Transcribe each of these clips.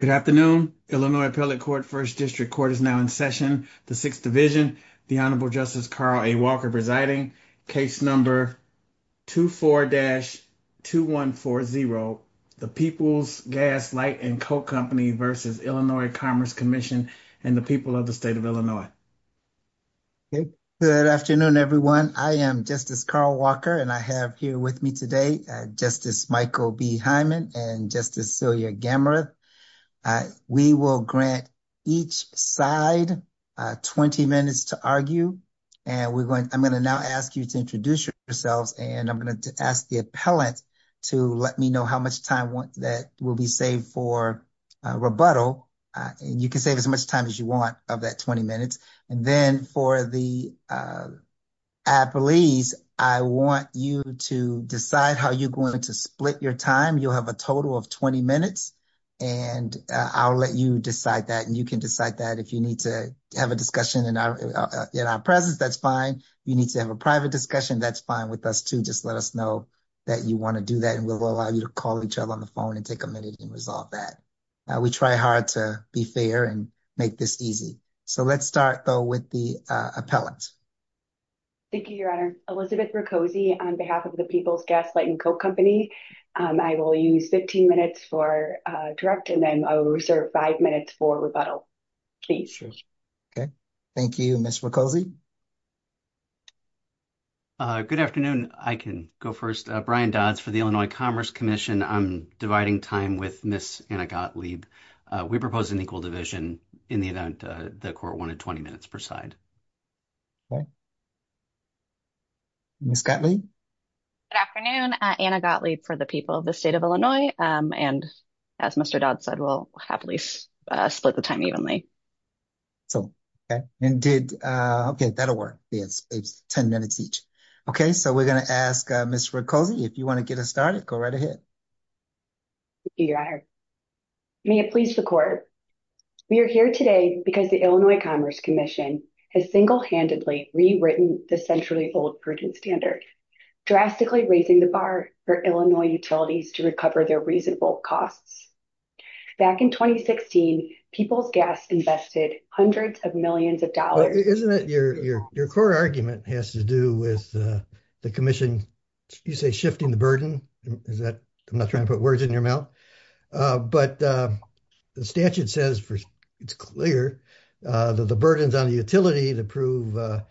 Good afternoon. Illinois Appellate Court First District Court is now in session. The Sixth Division, the Honorable Justice Carl A. Walker presiding. Case number 24-2140, The Peoples Gas Light and Coke Company v. Illinois Commerce Comm'n and the People of the State of Illinois. Good afternoon everyone. I am Justice Carl Walker and I have here with me today Justice Michael B. Hyman and Justice Celia Gammareth. We will grant each side 20 minutes to argue and I'm going to now ask you to introduce yourselves and I'm going to ask the appellant to let me know how much time that will be saved for rebuttal and you can save as much time as you want of that 20 minutes. And then for the appellees, I want you to decide how you're going to split your time. You'll have a total of 20 minutes and I'll let you decide that and you can decide that if you need to have a discussion in our presence, that's fine. If you need to have a private discussion, that's fine with us too. Just let us know that you want to do that and we'll allow you to call each other on the phone and take a minute and resolve that. We try hard to be fair and make this easy. So let's start though with the appellant. Thank you, Your Honor. Elizabeth Roccozzi on behalf of the People's Gaslight and Coke Company. I will use 15 minutes for direct and then I will reserve five minutes for rebuttal. Please. Okay, thank you Ms. Roccozzi. Good afternoon. I can go first. Brian Dodds for the Illinois Commerce Commission. I'm proposing equal division in the event the court wanted 20 minutes per side. Ms. Gottlieb? Good afternoon. Anna Gottlieb for the people of the state of Illinois and as Mr. Dodds said, we'll happily split the time evenly. Okay, that'll work. It's 10 minutes each. Okay, so we're going to ask Ms. Roccozzi if you want to get us started. Go right ahead. Thank you, Your Honor. May it please the court. We are here today because the Illinois Commerce Commission has single-handedly rewritten the centrally old prudent standard, drastically raising the bar for Illinois utilities to recover their reasonable costs. Back in 2016, People's Gas invested hundreds of millions of dollars. Isn't it your core argument has to do with the commission, you say, shifting the burden? Is that right? I'm not trying to put words in your mouth, but the statute says it's clear that the burden's on the utility to prove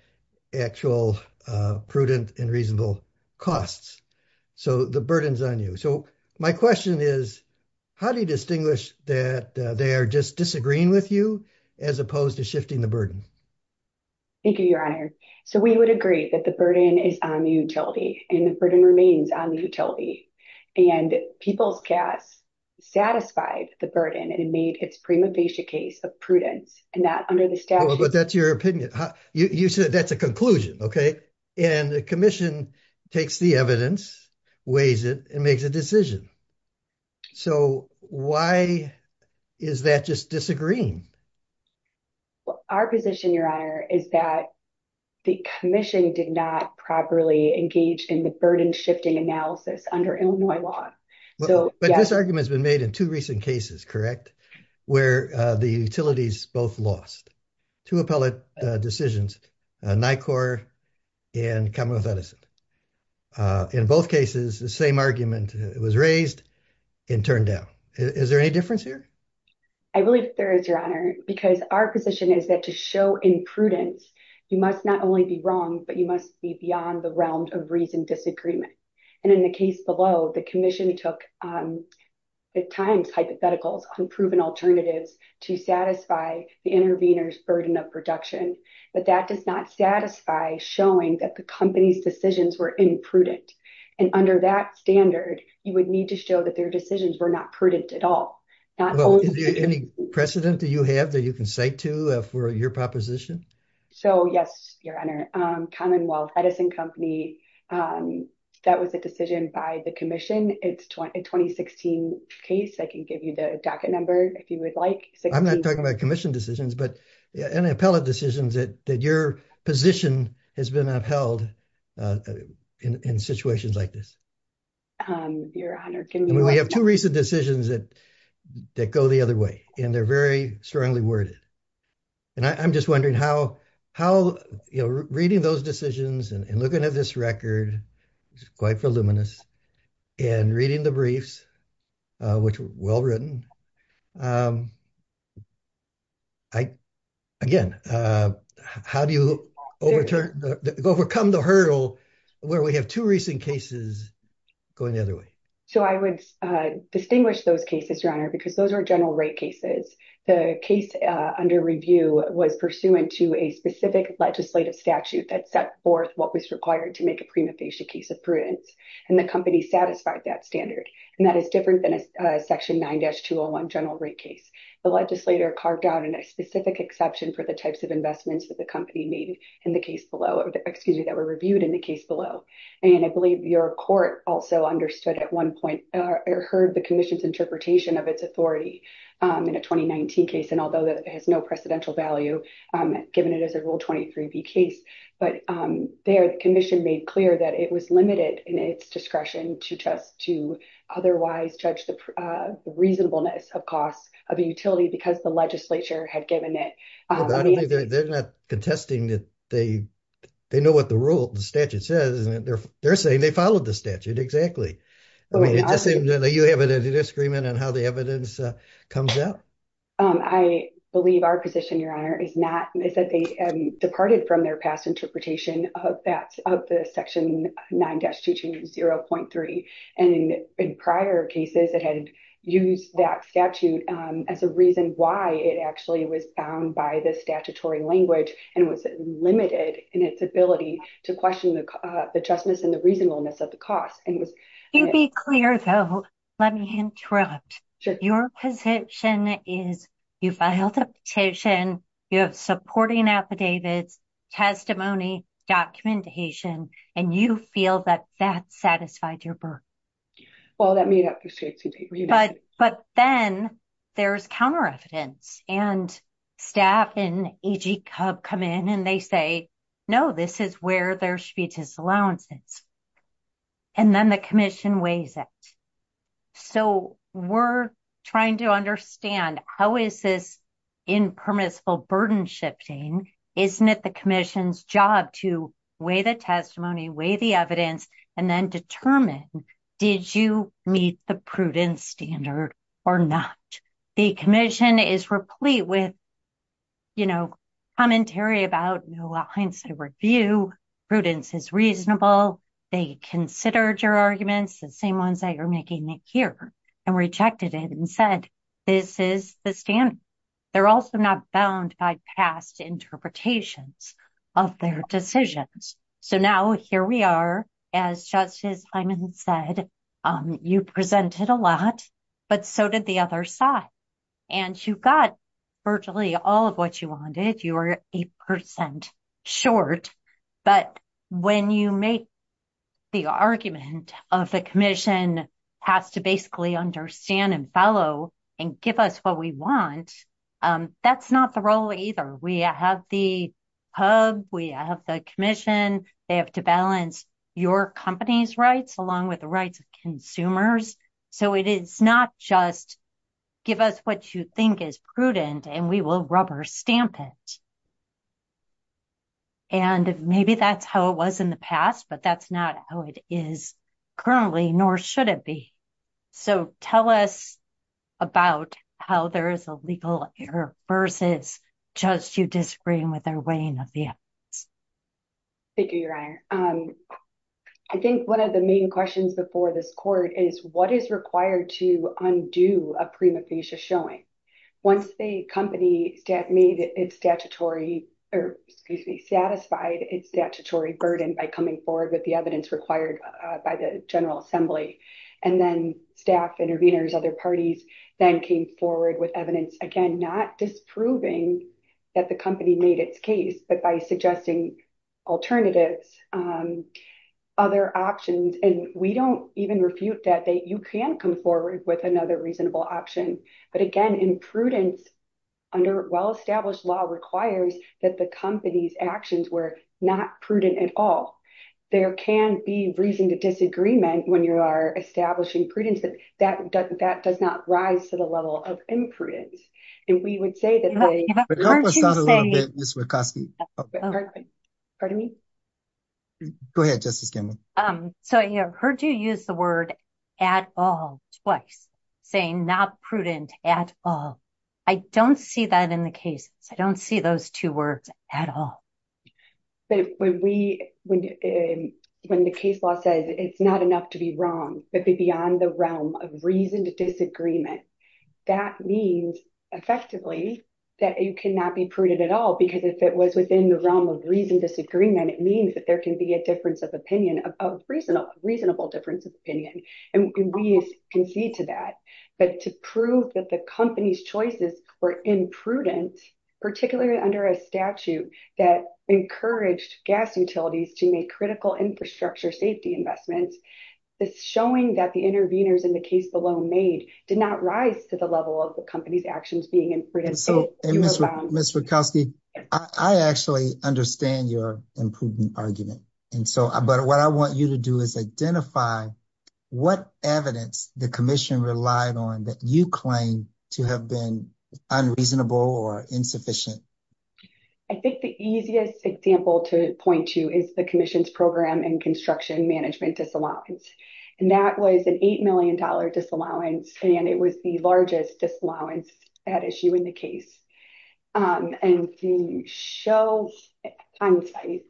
actual prudent and reasonable costs. So the burden's on you. So my question is, how do you distinguish that they are just disagreeing with you as opposed to shifting the burden? Thank you, Your Honor. So we would agree that the burden is on the utility and the burden remains on the utility. And People's Gas satisfied the burden and made its prima facie case of prudence and that under the statute. But that's your opinion. You said that's a conclusion, okay? And the commission takes the evidence, weighs it, and makes a decision. So why is that just disagreeing? Our position, Your Honor, is that the commission did not properly engage in the burden shifting analysis under Illinois law. But this argument has been made in two recent cases, correct, where the utilities both lost. Two appellate decisions, NICOR and Commonwealth Edison. In both cases, the same argument was raised and turned down. Is there any difference here? I believe there is, Your Honor, because our position is that to show imprudence, you must not only be wrong, but you must be beyond the realm of reasoned disagreement. And in the case below, the commission took, at times, hypotheticals, unproven alternatives to satisfy the intervener's burden of production. But that does not satisfy showing that the company's decisions were imprudent. And under that standard, you would need to show that their decisions were not prudent at all. Is there any precedent that you have that you can cite to for your proposition? So, yes, Your Honor. Commonwealth Edison Company, that was a decision by the commission. It's a 2016 case. I can give you the docket number if you would like. I'm not talking about commission decisions, but any appellate decisions that your position has been upheld in situations like this. Your Honor, can you... We have two recent decisions that go the other way, and they're very strongly worded. And I'm just wondering how, you know, reading those decisions and looking at this record, it's quite voluminous, and reading the briefs, which were well-written, again, how do you overcome the hurdle where we have two recent cases going the other way? So I would distinguish those cases, Your Honor, because those are general rate cases. The case under review was pursuant to a specific legislative statute that set forth what was required to make a prima facie case of prudence, and the company satisfied that standard, and that is different than a section 9-201 general rate case. The legislator carved out in a specific exception for the types of investments that the company made in the case below, excuse me, that were reviewed in the case below. And I believe your court also understood at one point, or heard the commission's interpretation of its authority in a 2019 case, and although that has no precedential value, given it as a Rule 23b case, but there the commission made clear that it was limited in its discretion to just to otherwise judge the reasonableness of costs of a utility because the legislature had given it... They're not contesting that they know what the rule, the statute says, they're saying they followed the statute, exactly. I mean, it just seems that you have a disagreement on how the evidence comes out. I believe our position, Your Honor, is not, is that they departed from their past interpretation of that, of the section 9-220.3, and in prior cases that had used that statute as a reason why it actually was found by the justness and the reasonableness of the cost, and it was... To be clear, though, let me interrupt. Your position is you filed a petition, you have supporting affidavits, testimony, documentation, and you feel that that satisfied your burden. Well, that made up for... But then there's counter-evidence, and staff and AG Cub come in and they say, no, this is where there should be disallowances, and then the commission weighs it. So we're trying to understand how is this impermissible burden shifting? Isn't it the commission's job to weigh the testimony, weigh the evidence, and then determine did you meet the prudence standard or not? The commission is replete with, you know, commentary about no hindsight review, prudence is reasonable, they considered your arguments, the same ones that you're making here, and rejected it and said this is the standard. They're also not bound by past interpretations of their decisions. So now here we are, as Justice Hyman said, you presented a lot, but so did the other side. And you got virtually all of what you wanted, you were 8% short, but when you make the argument of the commission has to basically understand and give us what we want, that's not the role either. We have the hub, we have the commission, they have to balance your company's rights along with the rights of consumers, so it is not just give us what you think is prudent and we will rubber stamp it. And maybe that's how it was in the past, but that's not how it is currently, nor should it be. So tell us about how there is a legal error versus just you disagreeing with their weighing of the evidence. Thank you, Your Honor. I think one of the main questions before this court is what is required to undo a prima facie showing? Once the company made its statutory, or excuse me, satisfied its statutory burden by coming forward with the evidence required by the Assembly, and then staff intervenors, other parties, then came forward with evidence, again, not disproving that the company made its case, but by suggesting alternatives, other options, and we don't even refute that, that you can come forward with another reasonable option. But again, in prudence, under well-established law requires that the company's actions were not prudent at all. There can be reason to disagreement when you are establishing prudence, but that does not rise to the level of imprudence. And we would say that they... But help us out a little bit, Ms. Wieckowski. Pardon me? Go ahead, Justice Gamble. So I heard you use the word at all twice, saying not prudent at all. I don't see that in the case. I don't see those two words at all. But when the case law says it's not enough to be wrong, but be beyond the realm of reasoned disagreement, that means effectively that you cannot be prudent at all, because if it was within the realm of reasoned disagreement, it means that there can be a difference of opinion, a reasonable difference of opinion. And we concede to that. But to prove that the company's choices were imprudent, particularly under a statute that encouraged gas utilities to make critical infrastructure safety investments, is showing that the intervenors in the case alone made did not rise to the level of the company's actions being imprudent. And so, Ms. Wieckowski, I actually understand your imprudent argument. But what I want you to do is identify what evidence the commission relied on that you claim to have been unreasonable or insufficient. I think the easiest example to point to is the commission's program and construction management disallowance. And that was an $8 million disallowance, and it was the largest disallowance at issue in the case. And to show hindsight,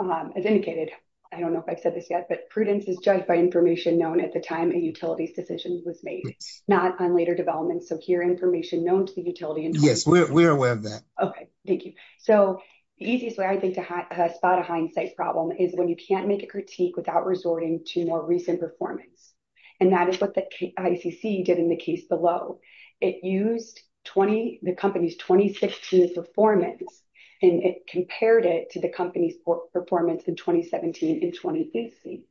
as indicated, I don't know if I've said this yet, but prudence is judged by information known at the time a utility's decision was made, not on later developments. So here, information known to the utility. Yes, we're aware of that. Okay, thank you. So the easiest way I think to spot a hindsight problem is when you can't make a critique without resorting to more recent performance. And that is what the ICC did in the case below. It used the company's performance, and it compared it to the company's performance in 2017 and 2018.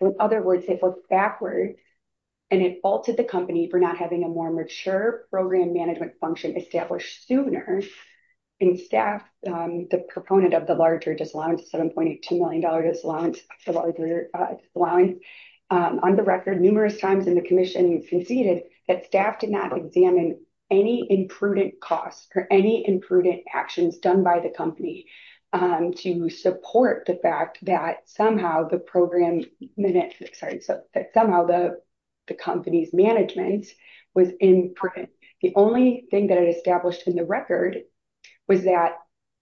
In other words, it looked backward, and it faulted the company for not having a more mature program management function established sooner. And staff, the proponent of the larger disallowance, $7.2 million disallowance, the larger disallowance, on the record, numerous times in the commission conceded that staff did not examine any imprudent costs or any imprudent actions done by the company to support the fact that somehow the program, sorry, that somehow the company's management was imprudent. The only thing that it established in the record was that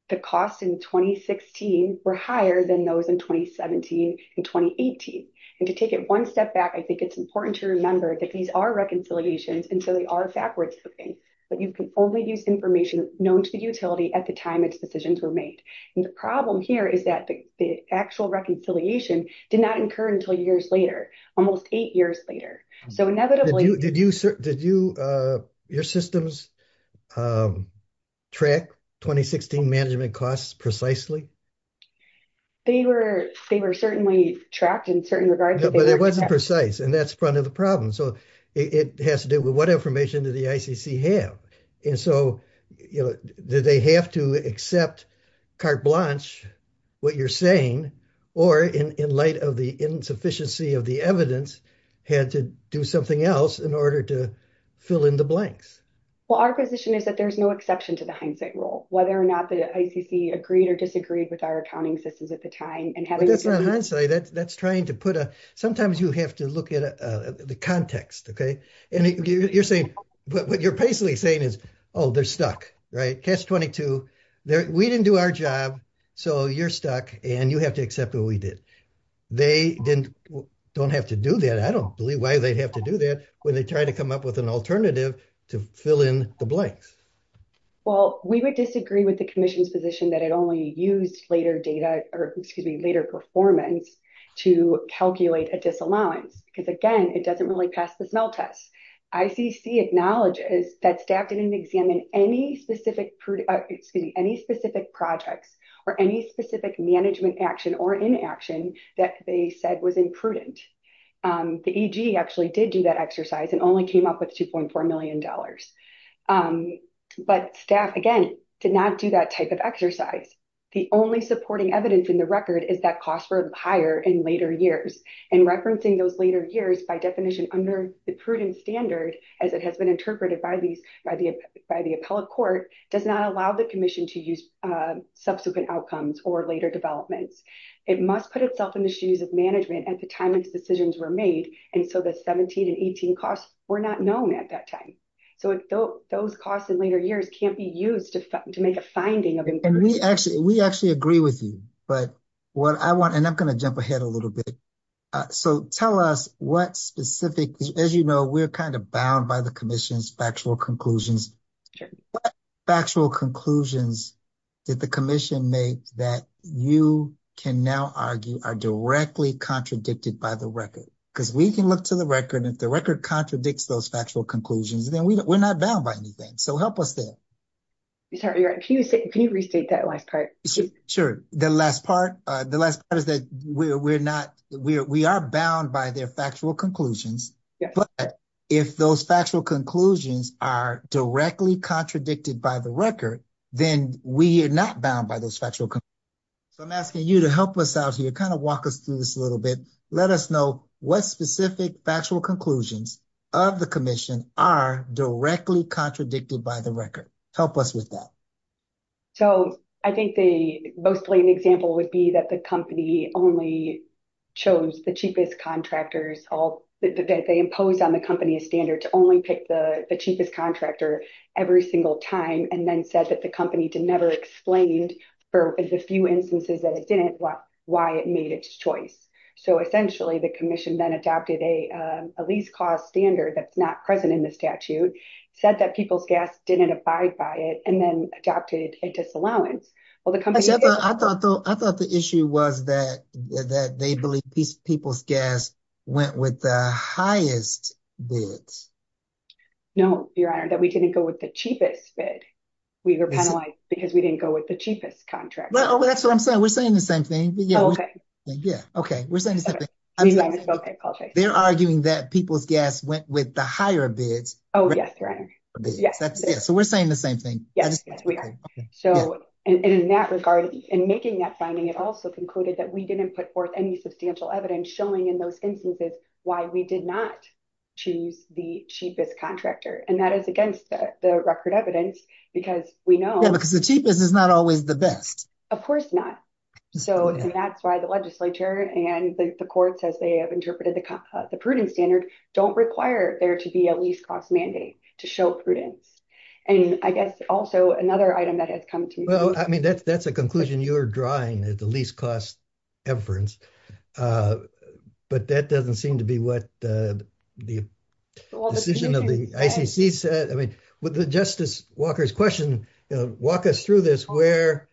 the costs in 2016 were higher than those in 2017 and 2018. And to take it one step back, I think it's important to remember that these are reconciliations, and so they are backwards looking. But you can only use information known to the utility at the time its decisions were made. And the problem here is that the actual reconciliation did not occur until years later, almost eight years later. So inevitably- Did you, your systems track 2016 management costs precisely? They were certainly tracked in certain regards- It wasn't precise, and that's part of the problem. So it has to do with what information did the ICC have? And so, you know, did they have to accept carte blanche, what you're saying, or in light of the insufficiency of the evidence, had to do something else in order to fill in the blanks? Well, our position is that there's no exception to the hindsight rule, whether or not the ICC agreed or disagreed with our accounting systems at the time. That's not hindsight, that's trying to put a, sometimes you have to look at the context, okay? And you're saying, what you're basically saying is, oh, they're stuck, right? Catch 22, we didn't do our job, so you're stuck, and you have to accept what we did. They don't have to do that. I don't believe why they'd have to do that when they try to come up with an alternative to fill in the blanks. Well, we would disagree with the commission's position that it only used later data, or, excuse me, later performance to calculate a disallowance, because again, it doesn't really pass the smell test. ICC acknowledges that staff didn't examine any specific projects, or any specific management action or inaction that they said was imprudent. The EG actually did do that exercise and only came up with $2.4 million. But staff, again, did not do that type of exercise. The only supporting evidence in the record is that costs were higher in later years, and referencing those later years by definition under the prudent standard, as it has been interpreted by the appellate court, does not allow the commission to use subsequent outcomes or later developments. It must put itself in the shoes of management at the time its decisions were made, and so the 17 and 18 costs were not known at that time. So those costs in later years can't be used to make a finding of improvements. We actually agree with you, but what I want, and I'm going to jump ahead a little bit. So tell us what specific, as you know, we're kind of bound by the commission's factual conclusions. What factual conclusions did the commission make that you can now argue are directly contradicted by the record? Because we can look to the record, and if the record contradicts those factual conclusions, then we're not bound by anything. So help us there. Sorry, can you restate that last part? Sure. The last part is that we are bound by their factual conclusions, but if those factual conclusions are directly contradicted by the record, then we are not bound by those factual conclusions. So I'm asking you to help us out here, kind of walk us through this a little bit. Let us know what specific factual conclusions of the commission are directly contradicted by the record. Help us with that. So I think the most blatant example would be that the company only chose the cheapest contractors, they imposed on the company a standard to only pick the cheapest contractor every single time, and then said that the company never explained for the few instances that it didn't why it made choice. So essentially, the commission then adopted a lease cost standard that's not present in the statute, said that People's Gas didn't abide by it, and then adopted a disallowance. I thought the issue was that they believe People's Gas went with the highest bids. No, Your Honor, that we didn't go with the cheapest bid. We were penalized because we didn't go with the cheapest contractor. That's what I'm saying. We're saying the same thing. We're saying the same thing. They're arguing that People's Gas went with the higher bids. Oh, yes, Your Honor. So we're saying the same thing. Yes, we are. So in that regard, in making that finding, it also concluded that we didn't put forth any substantial evidence showing in those instances why we did not choose the cheapest contractor. And that is against the record evidence because we know... Yeah, because the cheapest is not always the best. Of course not. And that's why the legislature and the courts, as they have interpreted the prudence standard, don't require there to be a lease cost mandate to show prudence. And I guess also another item that has come to me... Well, I mean, that's a conclusion you're drawing at the lease cost inference, but that doesn't seem to be what the decision of the ICC said. I mean, would Justice Walker's question walk us through this where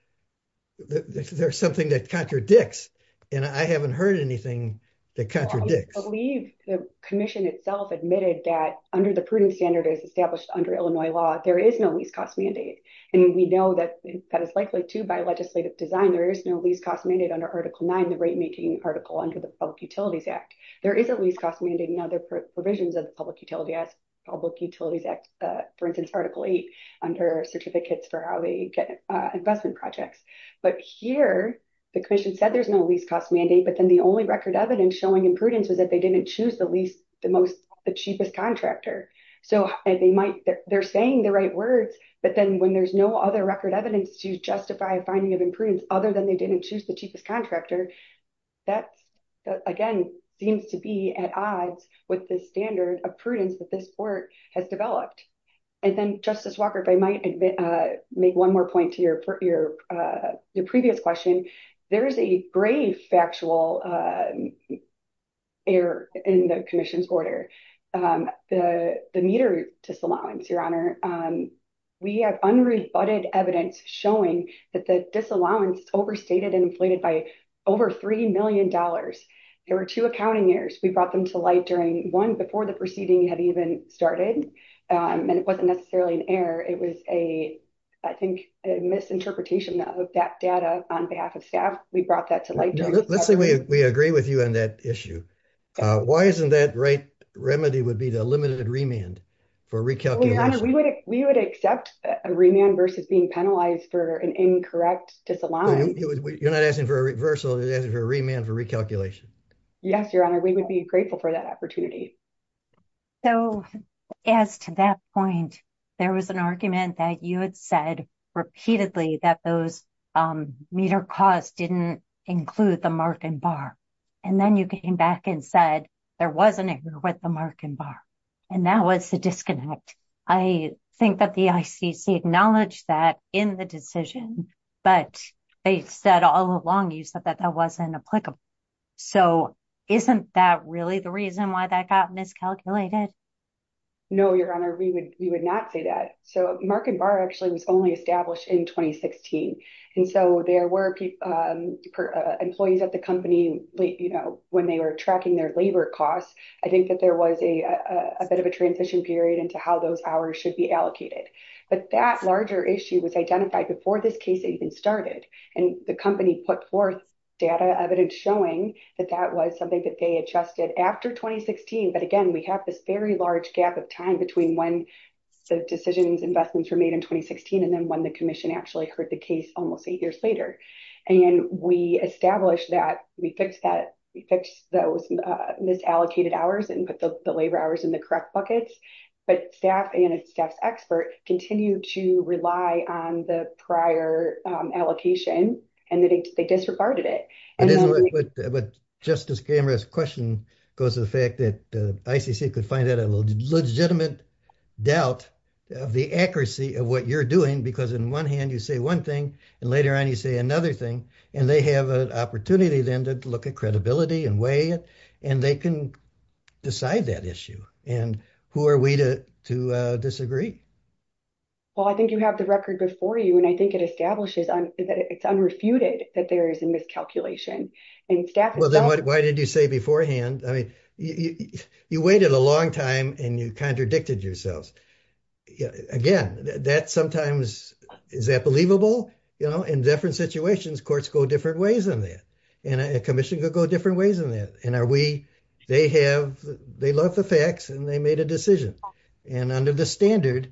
there's something that contradicts? And I haven't heard anything that contradicts. I believe the commission itself admitted that under the prudence standard as established under Illinois law, there is no lease cost mandate. And we know that that is likely to by legislative design. There is no lease cost mandate under Article 9, the rate making article under the Public Utilities Act. There is a lease cost mandate in other provisions of the Public Utilities Act, for instance, Article 8 under certificates for how they get investment projects. But here the commission said there's no lease cost mandate, but then the only record evidence showing imprudence was that they didn't choose the least, the cheapest contractor. So they're saying the right words, but then when there's no other record evidence to justify a finding of imprudence other than they didn't choose the cheapest contractor, that again, seems to be at odds with the standard of prudence that this court has developed. And then Justice Walker, if I might make one more point to your previous question, there is a grave factual error in the commission's order. The meter disallowance, Your Honor, we have unrebutted evidence showing that the disallowance overstated and inflated over three million dollars. There were two accounting errors. We brought them to light during one before the proceeding had even started, and it wasn't necessarily an error. It was a, I think, a misinterpretation of that data on behalf of staff. We brought that to light. Let's say we agree with you on that issue. Why isn't that right remedy would be the limited remand for recalculation? Your Honor, we would accept a remand versus being penalized for an incorrect disallowance. You're not asking for a reversal, you're asking for a remand for recalculation. Yes, Your Honor, we would be grateful for that opportunity. So as to that point, there was an argument that you had said repeatedly that those meter costs didn't include the mark and bar. And then you came back and said there was an error with the mark and that was the disconnect. I think that the ICC acknowledged that in the decision, but they said all along you said that that wasn't applicable. So isn't that really the reason why that got miscalculated? No, Your Honor, we would not say that. So mark and bar actually was only established in 2016. And so there were employees at the company, you know, when they were tracking their labor costs, I think that there was a bit of a transition period into how those hours should be allocated. But that larger issue was identified before this case even started. And the company put forth data evidence showing that that was something that they adjusted after 2016. But again, we have this very large gap of time between when the decisions investments were made in 2016. And then when the commission actually heard the case almost eight years later. And we established that we fixed those misallocated hours and put the labor hours in the correct buckets. But staff and staff's expert continue to rely on the prior allocation, and they disregarded it. But Justice Gamer's question goes to the fact that the ICC could find that a legitimate doubt of the accuracy of what you're doing, because in one hand, you say one thing, and later on, you say another thing. And they have an opportunity then to look at credibility and weigh it. And they can decide that issue. And who are we to disagree? Well, I think you have the record before you. And I think it establishes that it's unrefuted that there is a miscalculation. And staff... Well, then why did you say beforehand? I mean, you waited a long time and you contradicted yourselves. Again, that sometimes, is that believable? In different situations, courts go different ways than that. And a commission could go different ways than that. And they love the facts and they made a decision. And under the standard,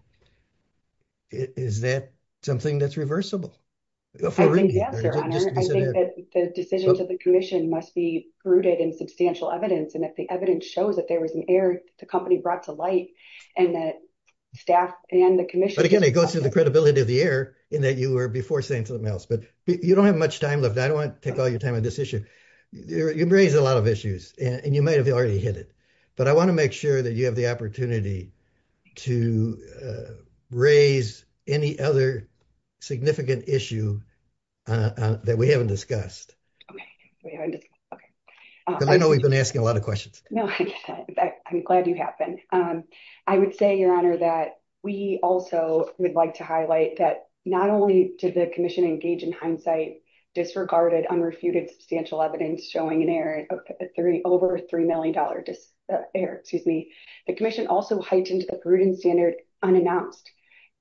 is that something that's reversible? I think yes, Your Honor. I think that the decision to the commission must be rooted in substantial evidence. And if the evidence shows that there was an error the company brought to light, and that staff and the commission... But again, it goes to the credibility of the error in that you were before saying something else. But you don't have much time left. I don't want to take all your time on this issue. You've raised a lot of issues and you might've already hit it. But I want to make sure that you have the opportunity to raise any other significant issue that we haven't discussed. I know we've been asking a lot of questions. No, I'm glad you have been. I would say, Your Honor, that we also would like to highlight that not only did the commission engage in hindsight, disregarded unrefuted substantial evidence showing an error, over $3 million error, excuse me. The commission also heightened the prudent standard unannounced.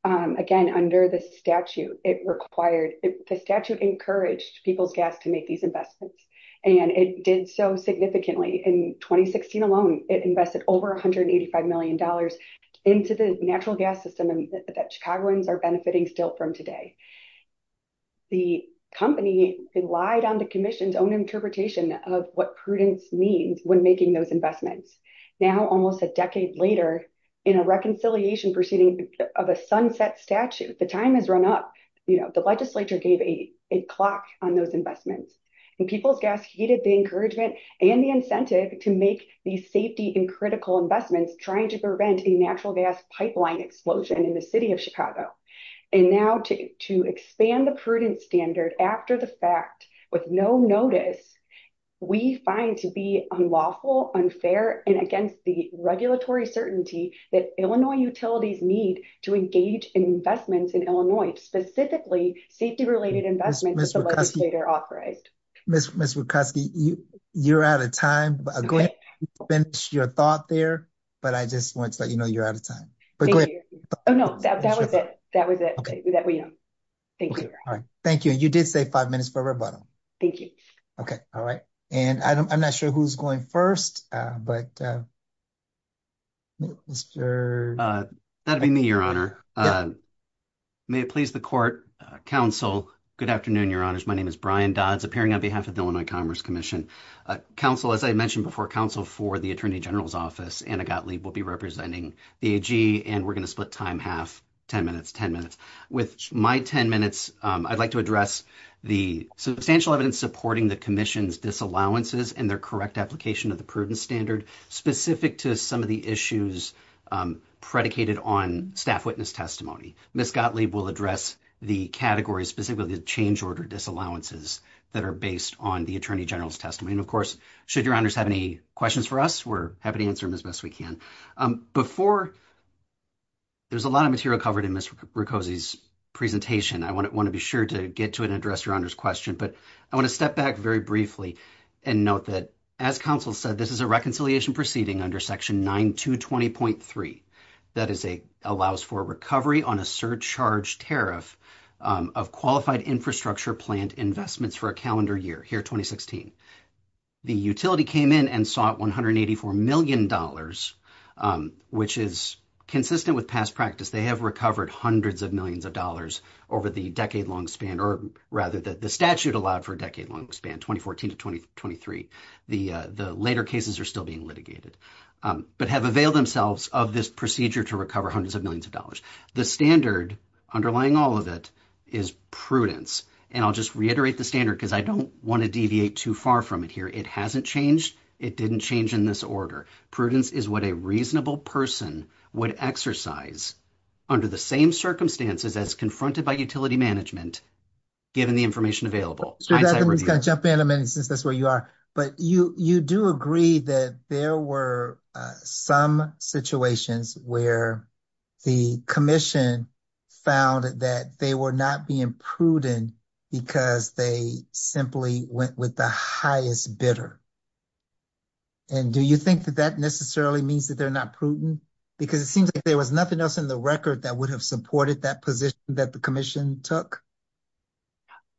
Again, under the statute, it required... The statute encouraged People's Gas to make these investments. And it did so significantly. In 2016 alone, it invested over $185 million into the natural gas system that Chicagoans are benefiting still from today. The company relied on the commission's own interpretation of what prudence means when making those investments. Now, almost a decade later, in a reconciliation proceeding of a sunset statute, the time has run up. The legislature gave a clock on those investments. And People's Gas heeded the encouragement and the incentive to make these safety and critical investments trying to prevent a natural gas pipeline explosion in the city of Chicago. And now to expand the prudent standard after the fact, with no notice, we find to be unlawful, unfair, and against the regulatory certainty that Illinois utilities need to engage in investments in Illinois, specifically safety-related investments that the legislature authorized. Ms. Wieckowski, you're out of time, but go ahead and finish your thought there. But I just want to let you know you're out of time. But go ahead. Oh, no, that was it. That was it. Thank you. All right. Thank you. And you did say five minutes for rebuttal. Thank you. Okay. All right. And I'm not sure who's going first, but... Mr. That'd be me, Your Honor. May it please the court, counsel. Good afternoon, Your Honors. My name is Brian Dodds, appearing on behalf of the Illinois Commerce Commission. Counsel, as I mentioned before, counsel for the Attorney General's Office, Anna Gottlieb, will be representing the AG. And we're going to split time half, 10 minutes, 10 minutes. With my 10 minutes, I'd like to address the substantial evidence supporting the commission's disallowances and their correct application of the prudence standard, specific to some of the issues predicated on staff witness testimony. Ms. Gottlieb will address the categories, specifically the change order disallowances that are based on the Attorney General's testimony. And of course, should Your Honors have any questions for us, we're happy to answer them as best we can. Before... There's a lot of material covered in Ms. Wieckowski's presentation. I want to be sure to get to it and address Your Honor's question. But I want to step back very briefly and note that, as counsel said, this is a reconciliation proceeding under Section 9220.3 that allows for recovery on a surcharge tariff of qualified infrastructure plant investments for a calendar year, here 2016. The utility came in and sought $184 million, which is consistent with past practice. They have recovered hundreds of millions of dollars over the decade-long span, or rather, the statute allowed for a decade-long span, 2014 to 2023. The later cases are still being litigated, but have availed themselves of this procedure to recover hundreds of millions of dollars. The standard underlying all of it is prudence. And I'll just reiterate the standard because I don't want to deviate too far from it here. It hasn't changed. It didn't change in this order. Prudence is what a reasonable person would exercise under the same circumstances as confronted by utility management, given the information available. I'm going to jump in a minute since that's where you are. But you do agree that there were some situations where the commission found that they were not being prudent because they simply went with the highest bidder. And do you think that that necessarily means that they're not prudent? Because it seems like there was nothing else in the record that would have supported that position that the commission took.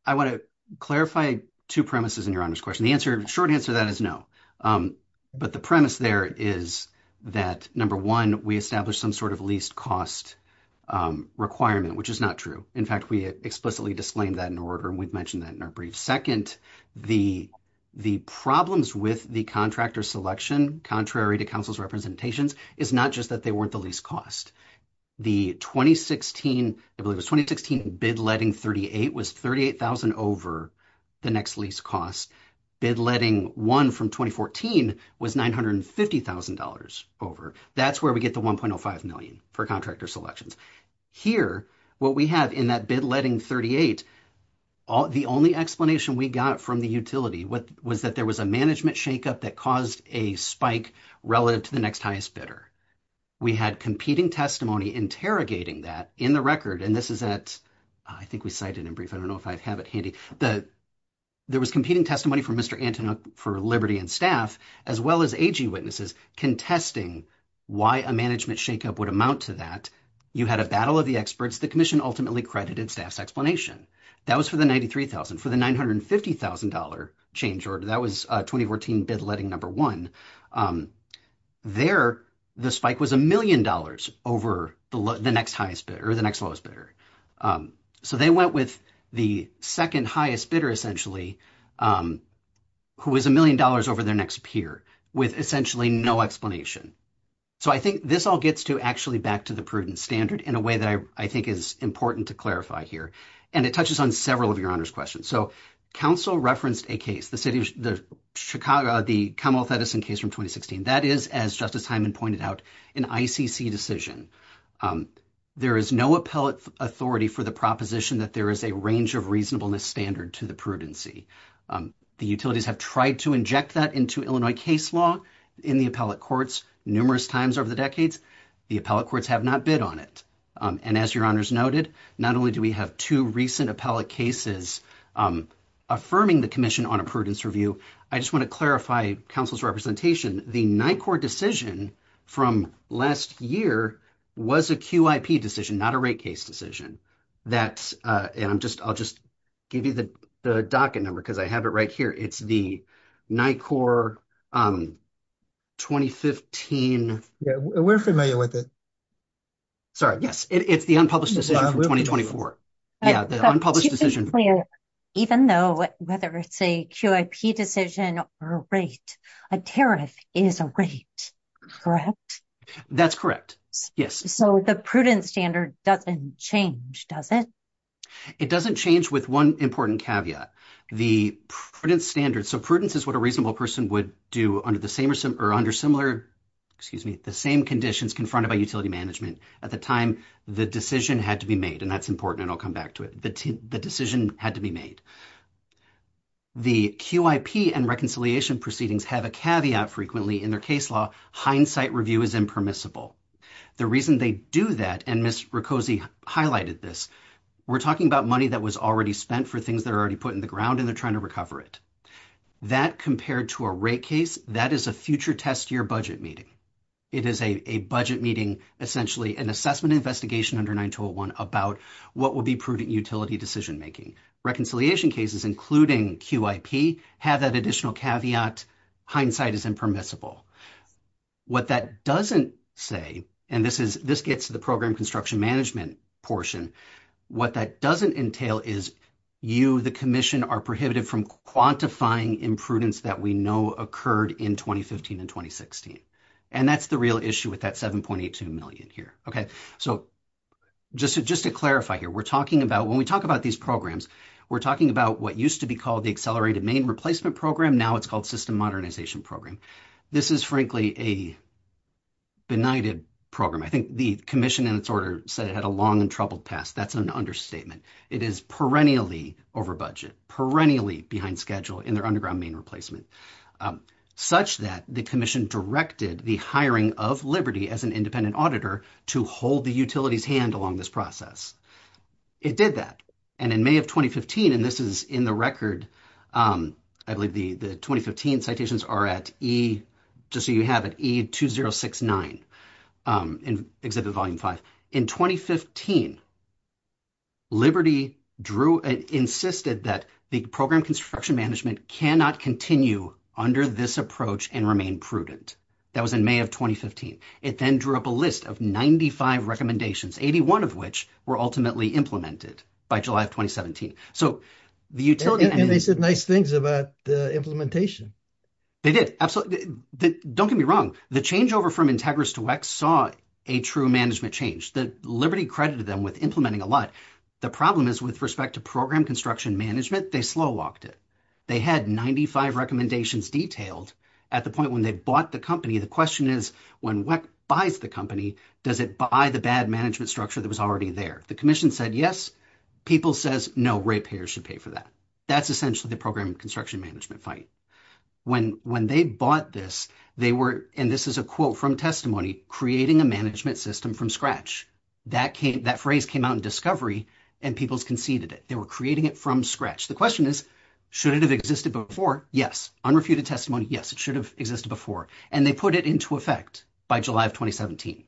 I want to clarify two premises in your Honor's question. The short answer to that is no. But the premise there is that, number one, we established some sort of least cost requirement, which is not true. In fact, we explicitly disclaimed that in order, and we've mentioned that in our brief. Second, the problems with the contractor selection, contrary to counsel's representations, is not just that they weren't the least cost. The 2016 bid letting 38 was $38,000 over the next lease cost. Bid letting one from 2014 was $950,000 over. That's where we get the $1.05 million for contractor selections. Here, what we have in that bid letting 38, the only explanation we got from the utility was that there was a management shakeup that caused a spike relative to the next highest bidder. We had competing testimony interrogating that in the record, and this is at, I think we cited in brief. I don't know if I have it handy. There was competing testimony from Mr. Antonin for Liberty and staff, as well as AG witnesses contesting why a management shakeup would amount to that. You had a battle of the experts. The commission ultimately credited staff's explanation. That was for the $93,000. For the $950,000 change order, that was 2014 bid letting number one. There, the spike was a million dollars over the next highest bidder, or the next lowest bidder. They went with the second highest bidder, essentially, who was a million dollars over their next peer with essentially no explanation. I think this all gets to actually back to the prudent standard in a way that I think is important to clarify here. It touches on several of Your Honor's questions. Council referenced a case, the Commonwealth Edison case from 2016. That is, as Justice Hyman pointed out, an ICC decision. There is no appellate authority for the proposition that there is a range of reasonableness standard to the prudency. The utilities have tried to inject that into Illinois case law in the appellate courts numerous times over the decades. The appellate courts have not bid on it. As Your Honor pointed out, there are two recent appellate cases affirming the commission on a prudence review. I just want to clarify Council's representation. The NICOR decision from last year was a QIP decision, not a rate case decision. I'll just give you the docket number because I have it right here. It's the NICOR 2015. We're familiar with it. Sorry, yes. It's the unpublished decision from 2024. Even though, whether it's a QIP decision or a rate, a tariff is a rate, correct? That's correct, yes. So the prudence standard doesn't change, does it? It doesn't change with one important caveat. The prudence standard, so prudence is what a reasonable person would do under the same or similar, excuse me, the same conditions confronted by utility management at the time the decision had to be made, and that's important, and I'll come back to it. The decision had to be made. The QIP and reconciliation proceedings have a caveat frequently in their case law. Hindsight review is impermissible. The reason they do that, and Ms. Riccozzi highlighted this, we're talking about money that was already spent for things that are already put in the ground, and they're trying to recover it. That compared to a rate case, that is a future test year budget meeting. It is a budget meeting, essentially an assessment investigation under 9201 about what would be prudent utility decision making. Reconciliation cases, including QIP, have that additional caveat. Hindsight is impermissible. What that doesn't say, and this gets to the program construction management portion, what that doesn't entail is you, the commission, are prohibited from quantifying imprudence that we know occurred in 2015 and 2016, and that's the real issue with that 7.82 million here, okay? So just to clarify here, we're talking about, when we talk about these programs, we're talking about what used to be called the Accelerated Main Replacement Program, now it's called System Modernization Program. This is frankly a benighted program. I think the commission in its order said it had a long and troubled past. That's an understatement. It is perennially over budget, perennially behind schedule in their underground main replacement, such that the commission directed the hiring of Liberty as an independent auditor to hold the utility's hand along this process. It did that, and in May of 2015, and this is in the record, I believe the 2015 citations are at E, just so you have it, E2069, Exhibit Volume 5. In 2015, Liberty drew and insisted that the program construction management cannot continue under this approach and remain prudent. That was in May of 2015. It then drew up a list of 95 recommendations, 81 of which were ultimately implemented by July of 2017. So the utility... And they said nice things about the implementation. They did, absolutely. Don't get me wrong. The changeover from Integris to WEX saw a true change. Liberty credited them with implementing a lot. The problem is with respect to program construction management, they slow walked it. They had 95 recommendations detailed at the point when they bought the company. The question is when WEX buys the company, does it buy the bad management structure that was already there? The commission said yes. People says no, rate payers should pay for that. That's essentially the program construction management fight. When they bought this, they were, and this is a quote from testimony, creating a management system from scratch. That phrase came out in Discovery and people's conceded it. They were creating it from scratch. The question is, should it have existed before? Yes. Unrefuted testimony, yes, it should have existed before. And they put it into effect by July of 2017.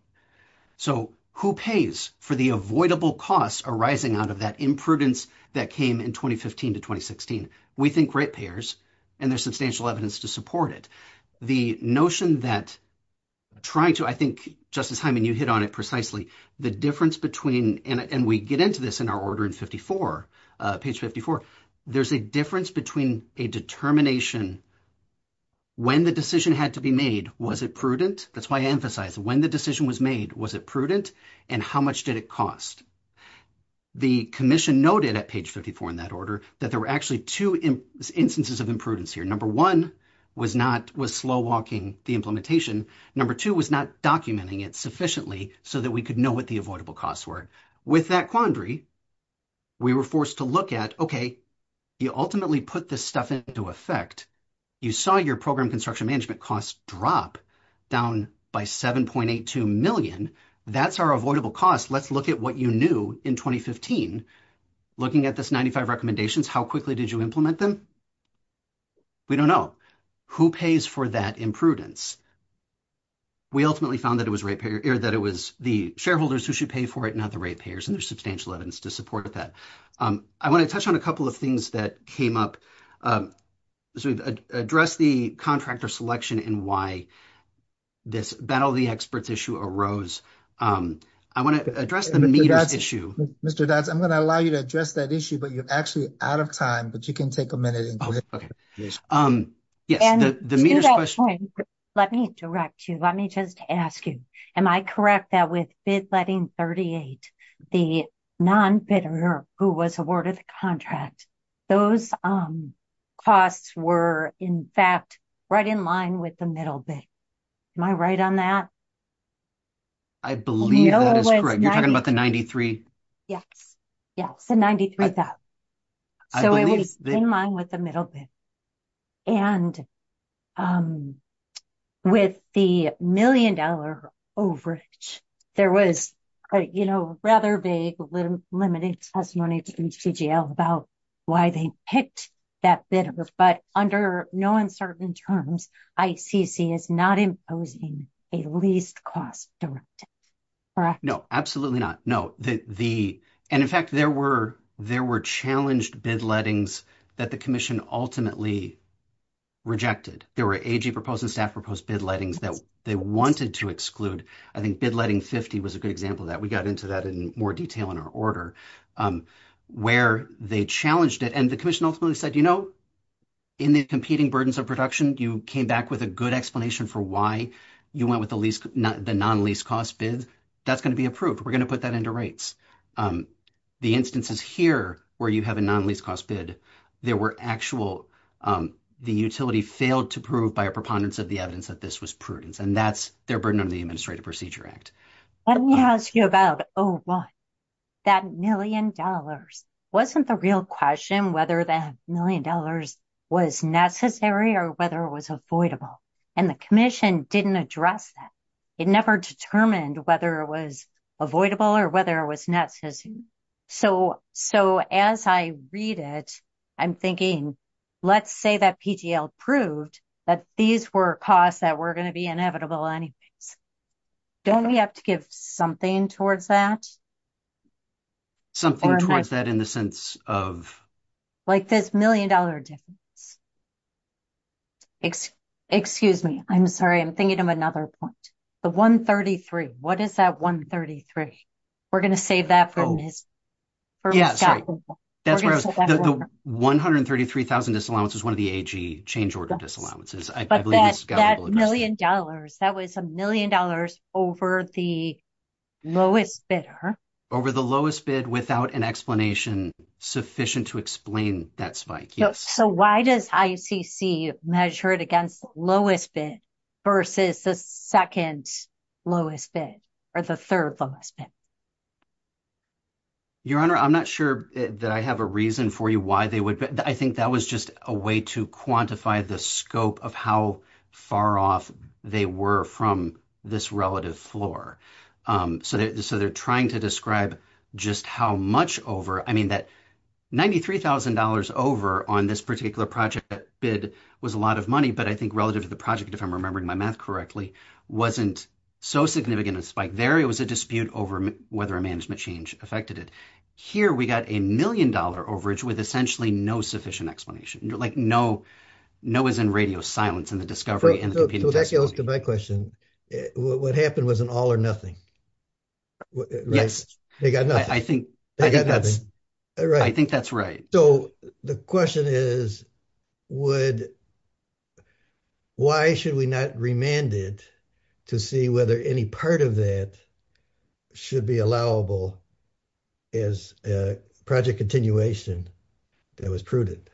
So who pays for the avoidable costs arising out of that imprudence that came in 2015 to 2016? We think rate payers and there's substantial evidence to support it. The notion that trying to, I think Justice Hyman, you hit on it precisely, the difference between, and we get into this in our order in 54, page 54, there's a difference between a determination, when the decision had to be made, was it prudent? That's why I emphasize when the decision was made, was it prudent? And how much did it cost? The commission noted at page 54 in that order, that there were actually two instances of imprudence here. Number one was slow walking the implementation. Number two was not documenting it sufficiently so that we could know what the avoidable costs were. With that quandary, we were forced to look at, okay, you ultimately put this stuff into effect. You saw your program construction management costs drop down by 7.82 million. That's our avoidable costs. Let's look at what you knew in 2015. Looking at this 95 recommendations, how quickly did you implement them? We don't know. Who pays for that imprudence? We ultimately found that it was the shareholders who should pay for it, not the rate payers, and there's substantial evidence to support that. I want to touch on a couple of things that came up. So we've addressed the contractor selection and why this battle of the experts issue arose. I want to address the meters issue. Mr. Dodds, I'm going to allow you to address that issue, but you're actually out of time, but you can take a minute. Let me direct you. Let me just ask you, am I correct that with bid letting 38, the non-bidder who was awarded the contract, those costs were, in fact, right in line with the middle bid. Am I right on that? I believe that is correct. You're talking about the 93? Yes. Yes. The 93,000. So it was in line with the middle bid. And with the million dollar overage, there was a rather big limited testimony to CGL about why they picked that bidder. But under no uncertain terms, ICC is not imposing a least cost directive. Correct? No, absolutely not. And in fact, there were challenged bid lettings that the commission ultimately rejected. There were AG proposed and staff proposed bid lettings that they wanted to exclude. I think bid letting 50 was a good example of that. We got into that in more detail in our order, where they challenged it. And the commission ultimately said, you know, in the competing burdens of production, you came back with a good explanation for why you went with the non-least cost bid. That's going to be approved. We're going to put that under rights. The instances here where you have a non-least cost bid, there were actual, the utility failed to prove by a preponderance of the evidence that this was prudence. And that's their burden under the Administrative Procedure Act. Let me ask you about, oh, what? That million dollars wasn't the real question, whether that million dollars was necessary or whether it was avoidable. And the commission didn't address that. It never determined whether it was avoidable or whether it was necessary. So as I read it, I'm thinking, let's say that PTL proved that these were costs that were going to be inevitable anyways. Don't we have to give something towards that? Something towards that in the sense of? Like this million dollar difference. Excuse me. I'm sorry. I'm thinking of another point. The 133. What is that 133? We're going to save that for Mr. Scott. The 133,000 disallowance was one of the AG change order disallowances. But that million dollars, that was a million dollars over the lowest bidder. Over the lowest bid without an explanation sufficient to explain that spike. Yes. So why does ICC measure it against lowest bid versus the second lowest bid or the third lowest bid? Your Honor, I'm not sure that I have a reason for you why they would. I think that was just a way to quantify the scope of how far off they were from this relative floor. So they're trying to describe just how much over. I mean that $93,000 over on this particular project bid was a lot of money. But I think relative to the project, if I'm remembering my math correctly, wasn't so significant a spike there. It was a dispute over whether a management change affected it. Here we got a million dollar overage with essentially no sufficient explanation. Like no is in radio silence in the discovery. So that goes to my question. What happened was all or nothing. Yes. They got nothing. I think that's right. I think that's right. So the question is would, why should we not remand it to see whether any part of that should be allowable as a project continuation that was prudent?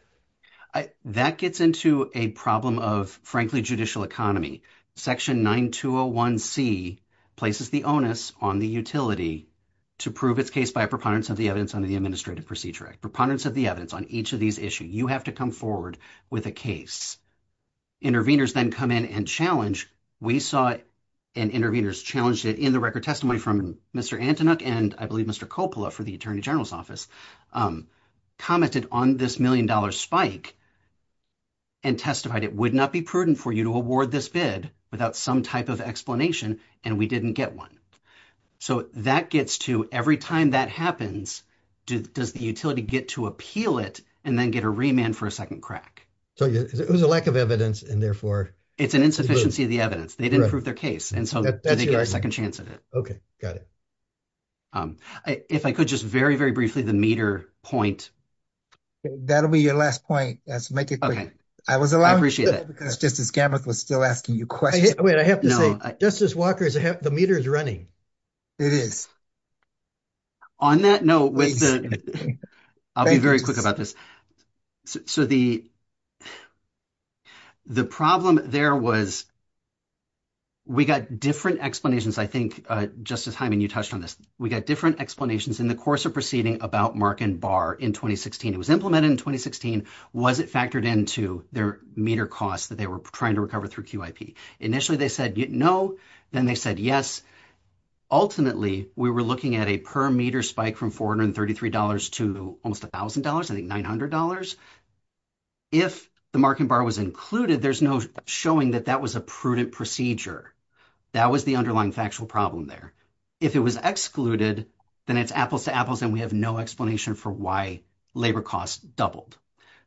That gets into a problem of frankly judicial economy. Section 9201C places the onus on the utility to prove its case by a preponderance of the evidence under the Administrative Procedure Act. Preponderance of the evidence on each of these issues. You have to come forward with a case. Interveners then come in and challenge. We saw and interveners challenged it in the record testimony from Mr. Antonuck and I believe Mr. Coppola for the Attorney General's Office commented on this million dollar spike and testified it would not be prudent for you to award this bid without some type of explanation and we didn't get one. So that gets to every time that happens does the utility get to appeal it and then get a remand for a second crack. So it was a lack of evidence and therefore. It's an insufficiency of the evidence. They didn't prove their case and so they get a second chance at it. Okay got it. If I could just very very briefly the meter point. That'll be your last point. Make it quick. I was allowed. I appreciate it. Justice Gameth was still asking you questions. Wait I have to say Justice Walker the meter is running. It is. On that note. I'll be very quick about this. So the the problem there was we got different explanations. I think Justice Hyman you touched on this. We got different explanations in the course of proceeding about Mark and Barr in 2016. It was implemented in 2016. Was it factored into their meter costs that they were trying to recover through QIP? Initially they said no. Then they said yes. Ultimately we were looking at a per meter spike from $433 to almost $1,000 I think $900. If the Mark and Barr was included there's no showing that that was a prudent procedure. That was the underlying factual problem there. If it was excluded then it's apples to apples and we have no explanation for why labor costs doubled.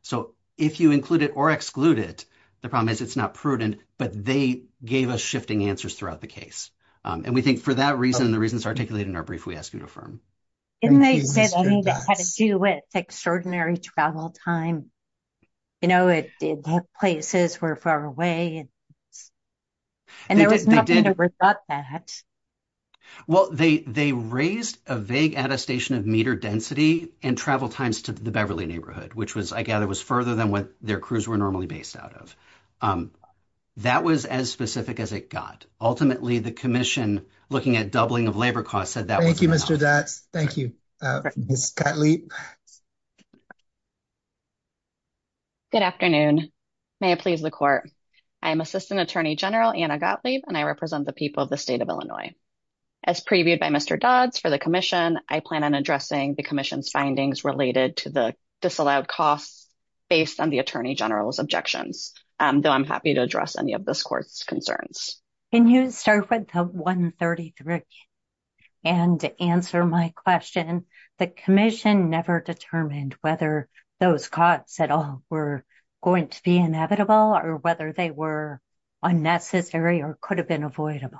So if you include it or exclude it the problem is it's not prudent but they gave us shifting answers throughout the case. And we think for that reason and the reasons articulated in our brief we ask you to affirm. Didn't they say they had to do with extraordinary travel time? You know places were far away. And there was nothing about that. Well they raised a vague attestation of meter density and travel times to the Beverly neighborhood which was I gather was further than what their crews were normally based out of. That was as specific as it got. Ultimately the commission looking at doubling of labor costs said that. Thank you Mr. Dotz. Thank you Ms. Gottlieb. Good afternoon. May it please the court. I am Assistant Attorney General Anna Gottlieb and I represent the people of the state of Illinois. As previewed by Mr. Dotz for the commission I plan on addressing the commission's findings related to the disallowed costs based on the Attorney General's objections. Though I'm happy to address any of this court's concerns. Can you start with 133 and answer my question. The commission never determined whether those costs at all were going to be inevitable or whether they were unnecessary or could have been avoidable.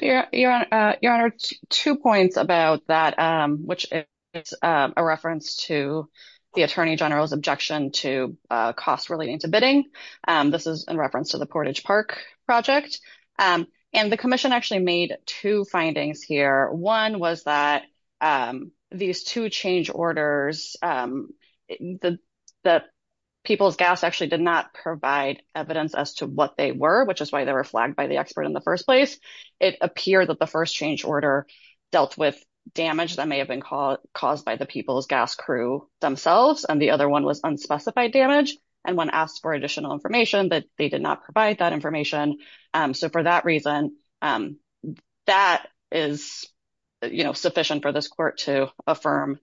Your Honor two points about that which is a reference to the Attorney General's objection to cost relating to bidding. This is in reference to the Portage Park project and the commission actually made two findings here. One was that these two change orders that People's Gas actually did not provide evidence as to what they were which is why they were flagged by the expert in the first place. It appeared that the first change order dealt with damage that may have been caused by the People's Gas crew themselves and the other one was unspecified damage and when asked for additional information that they did not provide that information. So for that reason that is you know sufficient for this court to affirm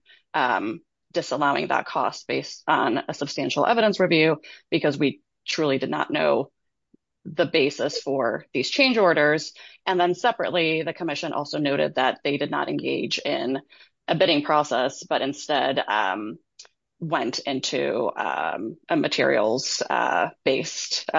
disallowing that cost based on a substantial evidence review because we truly did not know the basis for these change orders. And then separately the commission also noted that they did not engage in a bidding process but instead went into a materials-based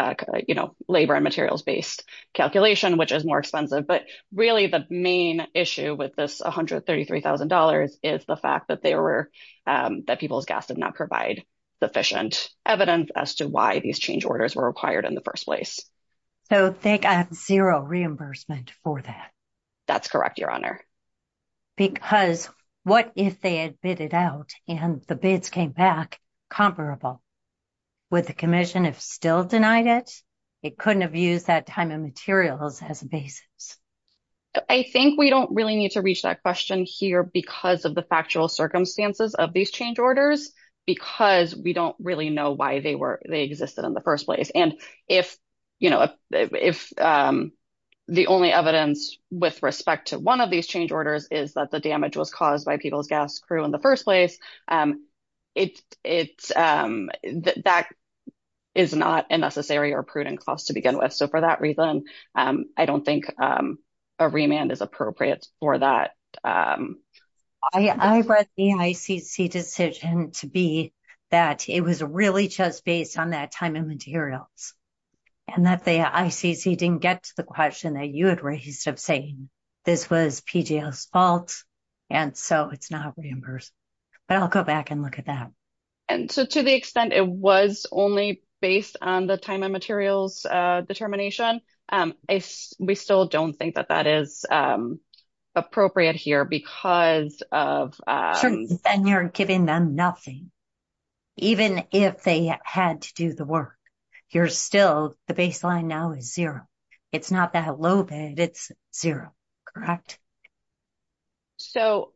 you know labor and materials-based calculation which is more expensive but really the main issue with this $133,000 is the fact that they were that People's Gas did not provide sufficient evidence as to why these change orders were required in the first place. So think at zero reimbursement for that. That's correct your honor. Because what if they had bidded out and the bids came back comparable? Would the commission have still denied it? It couldn't have used that time of materials as a basis. I think we don't really need to reach that question here because of the factual circumstances of these change orders because we don't really know why they were they existed in the first place. And if you know if the only evidence with respect to one of these change orders is that the damage was caused by People's Gas crew in the first place it's that is not a necessary or prudent cost to begin with. So for that reason I don't think a remand is appropriate for that. I read the ICC decision to be that it was really just based on that time and materials and that the ICC didn't get to the question that you had raised of saying this was PJL's fault and so it's not reimbursed. But I'll go back and look at that. And so to the extent it was only based on the time and materials determination we still don't think that that is appropriate here because of. And you're giving them nothing even if they had to do the work. You're still the baseline now is zero. It's not that low bid it's zero, correct? So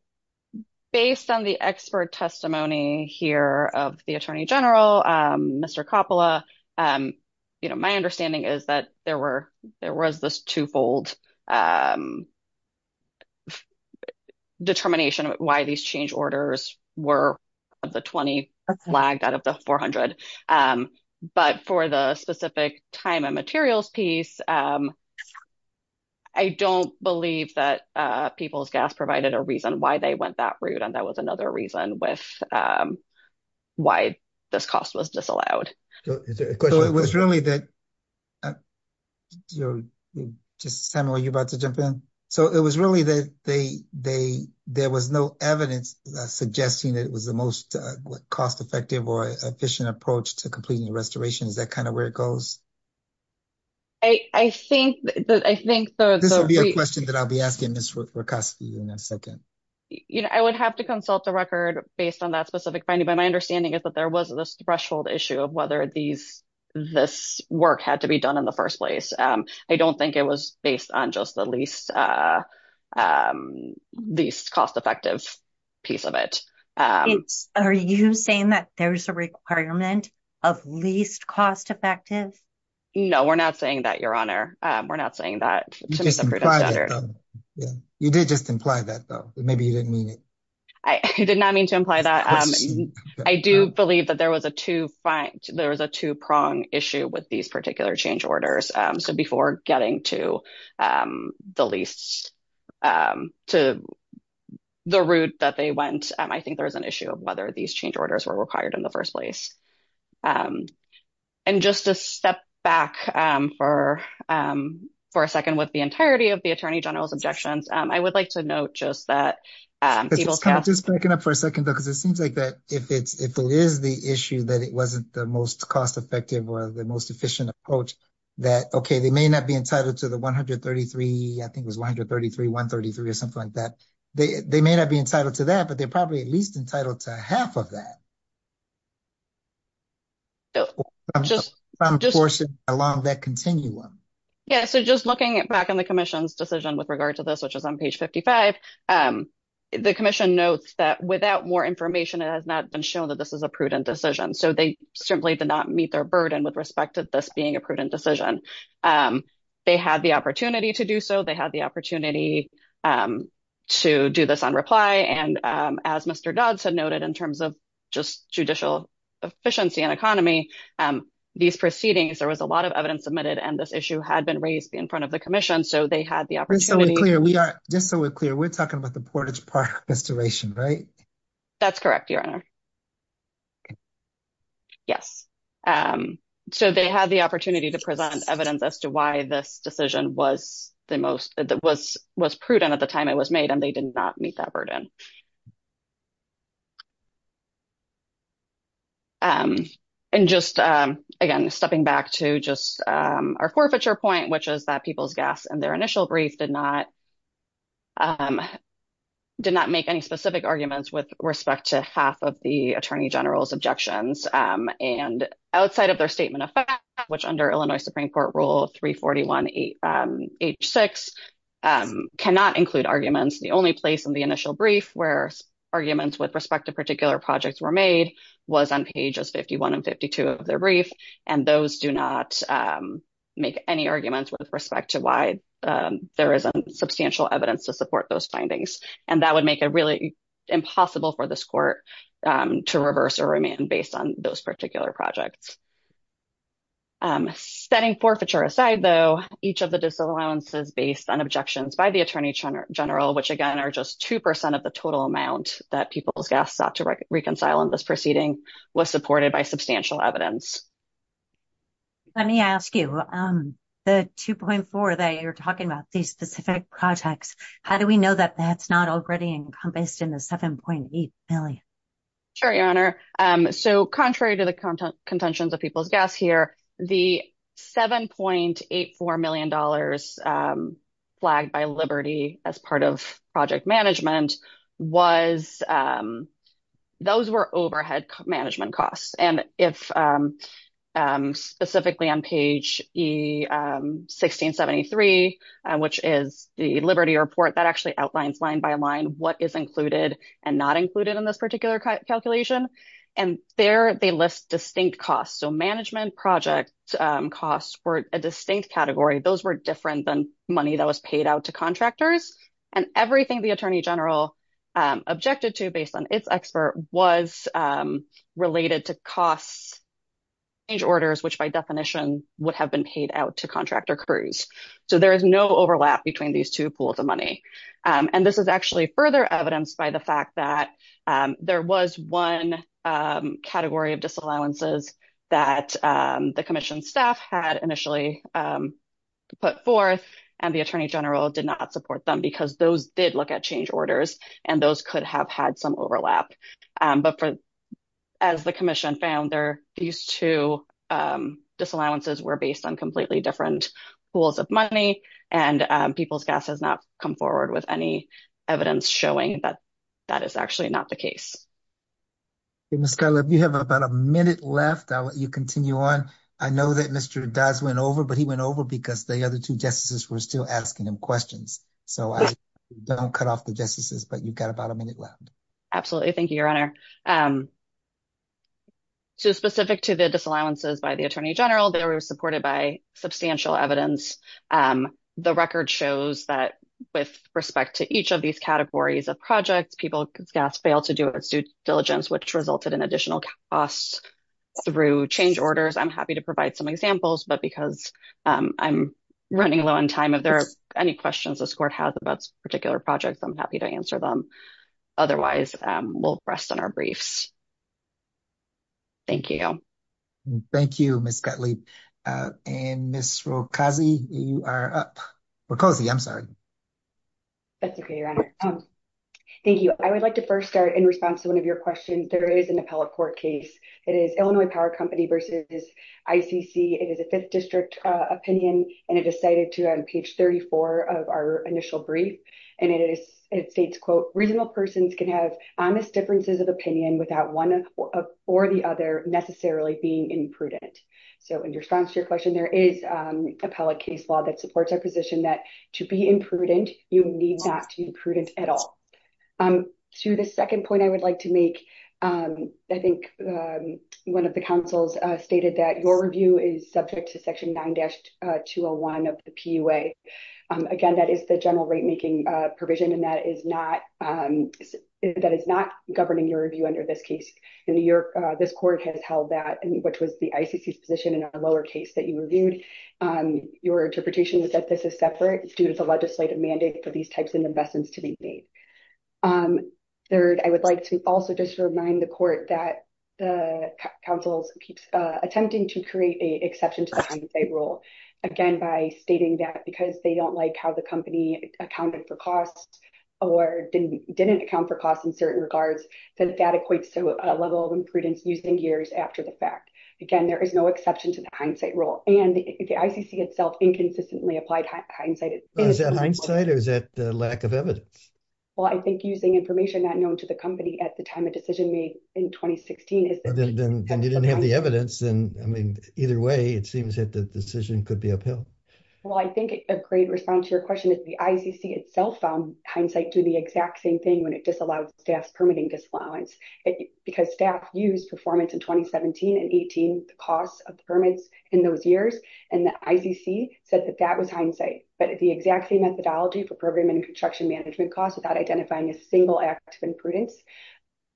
based on the expert testimony here of the Attorney General, Mr. Coppola, you know my determination why these change orders were of the 20 flagged out of the 400. But for the specific time and materials piece I don't believe that People's Gas provided a reason why they went that route and that was another reason with why this cost was disallowed. So it was really that, just Sam are you about to jump in? So it was really that there was no evidence suggesting that it was the most cost-effective or efficient approach to completing the restoration. Is that kind of where it goes? I think that I think this will be a question that I'll be asking Ms. Rakoski in a second. You know I would have to consult the record based on that specific finding but my understanding is there was this threshold issue of whether this work had to be done in the first place. I don't think it was based on just the least cost-effective piece of it. Are you saying that there's a requirement of least cost-effective? No we're not saying that your honor. We're not saying that. You did just imply that though maybe you didn't mean it. I did not mean to imply that. I do believe that there was a two-prong issue with these particular change orders. So before getting to the route that they went, I think there's an issue of whether these change orders were required in the first place. And just to step back for a second with the entirety of the Attorney General's objections, I would like to note just that. Just backing up for a second because it seems like that if it's if it is the issue that it wasn't the most cost-effective or the most efficient approach that okay they may not be entitled to the 133. I think it was 133, 133 or something like that. They may not be entitled to that but they're probably at least entitled to half of that. Just along that continuum. Yeah so just looking back in the commission's decision with regard to this which is on page 55, the commission notes that without more information it has not been shown that this is a prudent decision. So they simply did not meet their burden with respect to this being a prudent decision. They had the opportunity to do so. They had the opportunity to do this on reply and as Mr. Dodds had noted in terms of just judicial efficiency and economy, these proceedings there was a lot of evidence submitted and this issue had been raised in front of the commission so they had the opportunity. Just so we're clear, we're talking about the Portage Park restoration right? That's correct your honor. Yes so they had the opportunity to present evidence as to why this decision was the most that was was prudent at the time it was made and they did not meet that burden. And just again stepping back to just our forfeiture point which is that people's guests in their initial brief did not make any specific arguments with respect to half of the attorney general's objections and outside of their statement of fact which under Illinois Supreme Court Rule 341 H6 cannot include arguments. The only place in the initial brief where arguments with respect to particular projects were made was on pages 51 and 52 of their brief and those do not make any arguments with respect to why there isn't substantial evidence to support those findings and that would make it really impossible for this court to reverse or remain based on those particular projects. Setting forfeiture aside though each of the disallowances based on objections by the attorney general which again are just two percent of the total amount that people's guests sought to reconcile in this proceeding was supported by substantial evidence. Let me ask you the 2.4 that you're talking about these specific projects how do we know that that's not already encompassed in the 7.8 million? Sure your honor so contrary to the content contentions of people's guests here the 7.84 million dollars flagged by liberty as part of project management was those were overhead management costs and if specifically on page 1673 which is the liberty report that actually outlines line by line what is included and not included in this particular calculation and there they list distinct costs so management project costs were a distinct category those were different than money that was paid out to and everything the attorney general objected to based on its expert was related to costs age orders which by definition would have been paid out to contractor crews so there is no overlap between these two pools of money and this is actually further evidenced by the fact that there was one category of disallowances that the commission staff had initially um put forth and the attorney general did not support them because those did look at change orders and those could have had some overlap but for as the commission found there these two disallowances were based on completely different pools of money and people's gas has not come forward with any evidence showing that that is actually not the case. Okay Ms. Cutler if you have about a minute left I'll let you continue on. I know that Mr. Dodds went over but he went over because the other two justices were still asking him questions so I don't cut off the justices but you've got about a minute left. Absolutely thank you your honor um so specific to the disallowances by the attorney general they were supported by substantial evidence um the record shows that with respect to each of these categories of projects people's gas failed to do its due diligence which resulted in additional costs through change orders. I'm happy to provide some examples but because I'm running low on time if there are any questions this court has about particular projects I'm happy to answer them otherwise um we'll rest on our briefs. Thank you. Thank you Ms. Cutley uh and Ms. Roccozzi you are up. Roccozzi I'm sorry. That's okay your honor um thank you I would like to first start in response to one of your questions there is an appellate court case it is Illinois Power Company versus ICC it is a fifth district uh opinion and it decided to on page 34 of our initial brief and it is it states quote reasonable persons can have honest differences of opinion without one or the other necessarily being imprudent so in response to your question there is um appellate case law that supports our position that to be imprudent you need not to be prudent at all um to the second point I would like to make um I think um one of the counsels uh stated that your review is subject to section 9-201 of the PUA um again that is the general rate making uh provision and that is not um that is not governing your review under this case in New York uh this court has held that and which was the ICC's position in our lower case that you reviewed um your interpretation was that this is separate it's due to the legislative mandate for these types of investments to be made um third I would like to also just remind the court that the counsels keeps uh attempting to create a exception to the hindsight rule again by stating that because they don't like how the company accounted for costs or didn't didn't account for costs in certain regards then that equates to a level of imprudence using years after the fact again there is no exception to the hindsight rule and the ICC itself inconsistently applied hindsight is that hindsight or is that the lack of evidence well I think using information not known to the company at the time of decision made in 2016 is then you didn't have the evidence and I mean either way it seems that the decision could be upheld well I think a great response to your question is the ICC itself found hindsight do the exact same thing when it disallowed staffs disallowance because staff used performance in 2017 and 18 the costs of permits in those years and the ICC said that that was hindsight but the exact same methodology for program and construction management costs without identifying a single act of imprudence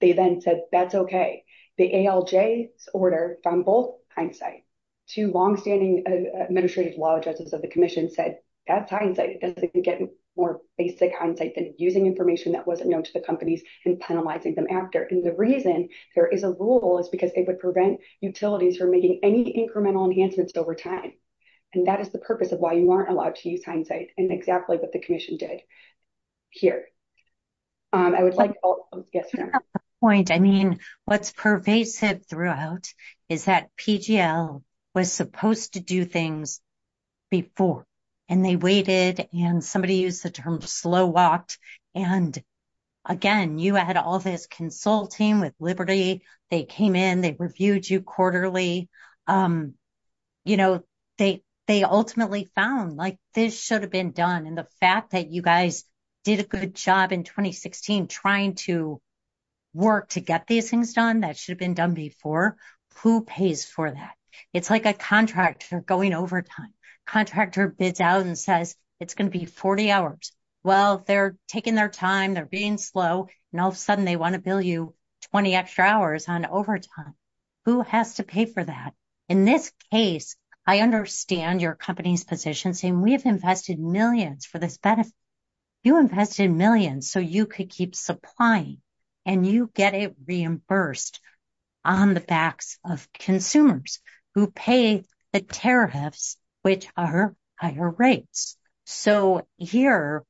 they then said that's okay the ALJ's order found both hindsight two long-standing administrative law judges of the commission said that's hindsight it doesn't get more basic hindsight than using information that wasn't known to the companies and penalizing them after and the reason there is a rule is because they would prevent utilities from making any incremental enhancements over time and that is the purpose of why you aren't allowed to use hindsight and exactly what the commission did here I would like yes point I mean what's pervasive throughout is that pgl was supposed to things before and they waited and somebody used the term slow walked and again you had all this consulting with liberty they came in they reviewed you quarterly you know they they ultimately found like this should have been done and the fact that you guys did a good job in 2016 trying to work to get these things done that should have been done before who pays for that it's like a contractor going overtime contractor bids out and says it's going to be 40 hours well they're taking their time they're being slow and all of a sudden they want to bill you 20 extra hours on overtime who has to pay for that in this case I understand your company's position saying we have invested millions for this benefit you invested millions so you could keep supplying and you get reimbursed on the backs of consumers who pay the tariffs which are higher rates so here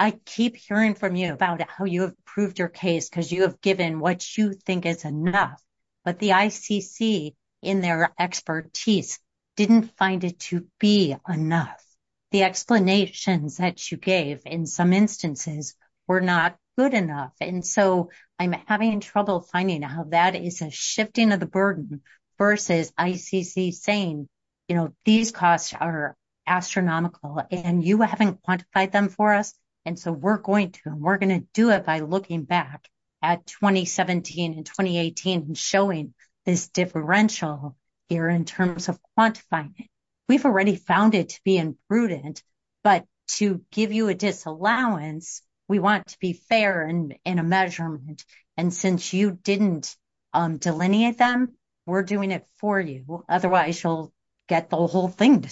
I keep hearing from you about how you have proved your case because you have given what you think is enough but the ICC in their expertise didn't find it to be enough the explanations that you gave in some instances were not good enough and so I'm having trouble finding how that is a shifting of the burden versus ICC saying you know these costs are astronomical and you haven't quantified them for us and so we're going to we're going to do it by looking back at 2017 and 2018 and showing this differential here in terms of quantifying it we've already found it to be imprudent but to give you a disallowance we want to be fair and in a measurement and since you didn't delineate them we're doing it for you otherwise you'll get the whole thing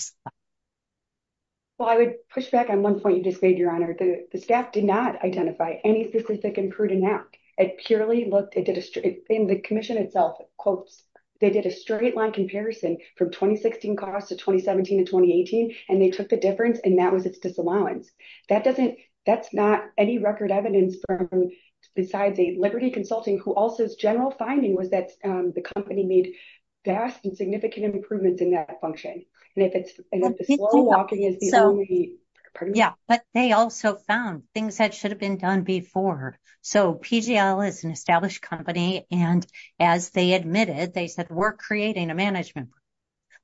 well I would push back on one point you just made your honor the staff did not identify any specific imprudent act it purely looked it did a straight in the commission itself quotes they did a straight line comparison from 2016 costs of 2017 and 2018 and they took the difference and that was its disallowance that doesn't that's not any record evidence from besides a liberty consulting who also's general finding was that the company made vast and significant improvements in that function and if it's and if the slow walking is the only yeah but they also found things that should have been done before so pgl is an established company and as they admitted they said we're creating a program for safety management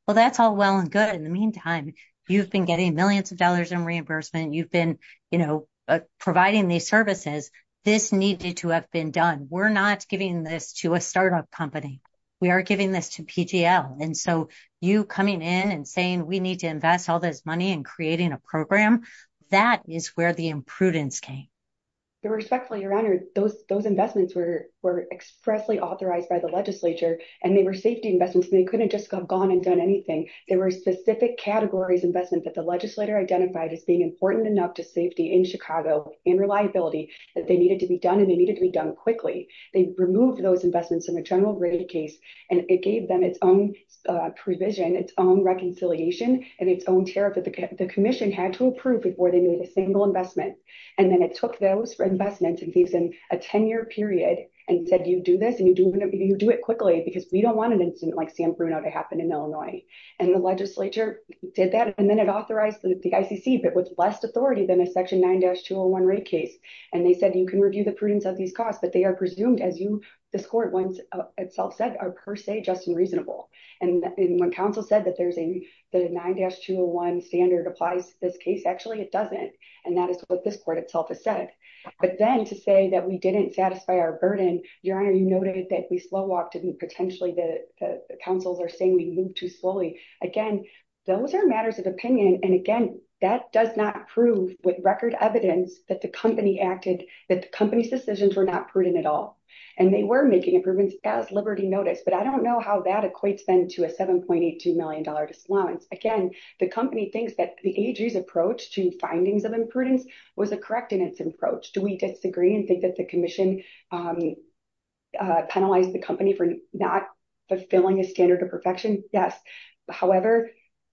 well that's all well and good in the meantime you've been getting millions of dollars in reimbursement you've been you know providing these services this needed to have been done we're not giving this to a startup company we are giving this to pgl and so you coming in and saying we need to invest all this money in creating a program that is where the imprudence came your respectfully your honor those those investments were were expressly authorized by the legislature and they were safety investments they couldn't just have gone and done anything there were specific categories investment that the legislator identified as being important enough to safety in chicago and reliability that they needed to be done and they needed to be done quickly they removed those investments in the general rate case and it gave them its own provision its own reconciliation and its own tariff that the commission had to approve before they made a single investment and then it took those for investment and leaves in a 10-year period and said you do this and you do whatever you do it quickly because we don't want an incident like san bruno to happen in illinois and the legislature did that and then it authorized the icc but with less authority than a section 9-201 rate case and they said you can review the prudence of these costs but they are presumed as you this court once itself said are per se just and reasonable and when council said that there's a the 9-201 standard applies this case actually it doesn't and that is what this court itself has said but then to say that we didn't satisfy our burden your honor you noted that we slow walked and potentially the councils are saying we move too slowly again those are matters of opinion and again that does not prove with record evidence that the company acted that the company's decisions were not prudent at all and they were making improvements as liberty notice but i don't know how that equates then to a 7.82 dollar disallowance again the company thinks that the ag's approach to findings of imprudence was a correct in its approach do we disagree and think that the commission penalized the company for not fulfilling a standard of perfection yes however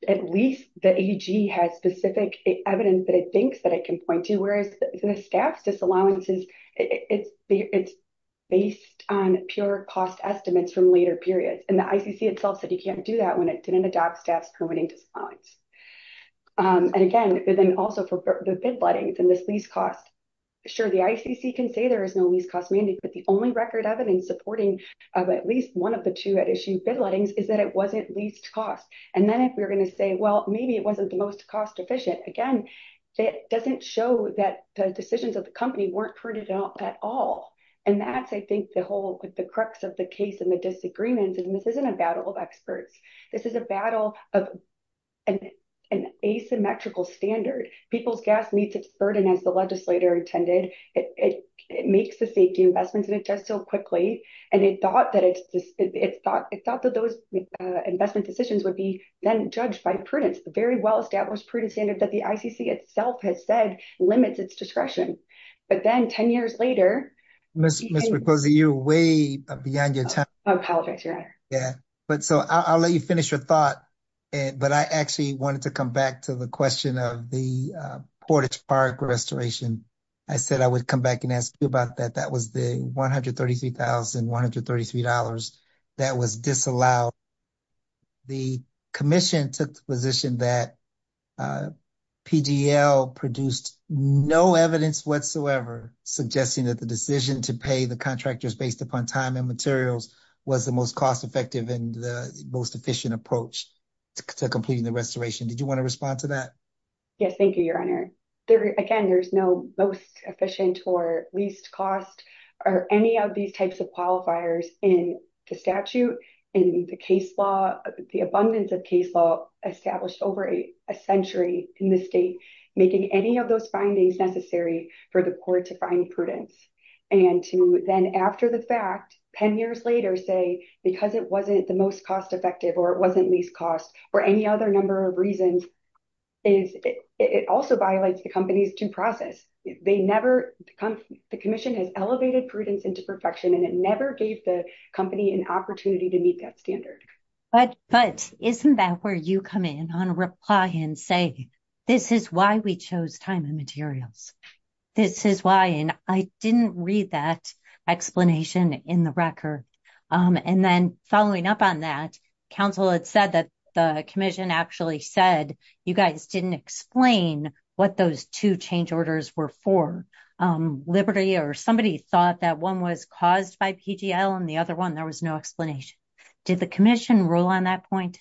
at least the ag has specific evidence that it thinks that it can point to whereas the staff's disallowances it's it's based on pure cost estimates from later periods and the icc itself said you can't do that when it didn't adopt staff's permitting disallowance and again but then also for the bid letting than this least cost sure the icc can say there is no least cost mandate but the only record evidence supporting of at least one of the two at issue bid lettings is that it wasn't least cost and then if we're going to say well maybe it wasn't the most cost efficient again it doesn't show that the decisions of the company weren't printed out at all and that's i think the whole the crux of the case and the disagreements and this isn't a battle of experts this is a battle of an asymmetrical standard people's gas meets its burden as the legislator intended it it makes the safety investments and it does so quickly and it thought that it's just it's thought it thought that those investment decisions would be then judged by prudence very well established prudent standard that the icc itself has said limits its discretion but then 10 years later mr mcclosey you're way beyond your time yeah but so i'll let you finish your thought and but i actually wanted to come back to the question of the portage park restoration i said i would come back and ask you about that that was the 133 133 that was disallowed the commission took the that pdl produced no evidence whatsoever suggesting that the decision to pay the contractors based upon time and materials was the most cost effective and the most efficient approach to completing the restoration did you want to respond to that yes thank you your honor there again there's no most efficient or least cost or any of these types of qualifiers in the statute in the case law the abundance of case law established over a century in the state making any of those findings necessary for the court to find prudence and to then after the fact 10 years later say because it wasn't the most cost effective or it wasn't least cost or any other number of reasons is it also violates the company's due process they never come the commission has elevated prudence into perfection and it never gave the company an opportunity to meet that standard but but isn't that where you come in on a reply and say this is why we chose time and materials this is why and i didn't read that explanation in the record um and then following up on that council had said that the commission actually said you guys didn't explain what those two change orders were for um liberty or somebody thought that one was caused by pgl and the other one there was no explanation did the commission rule on that point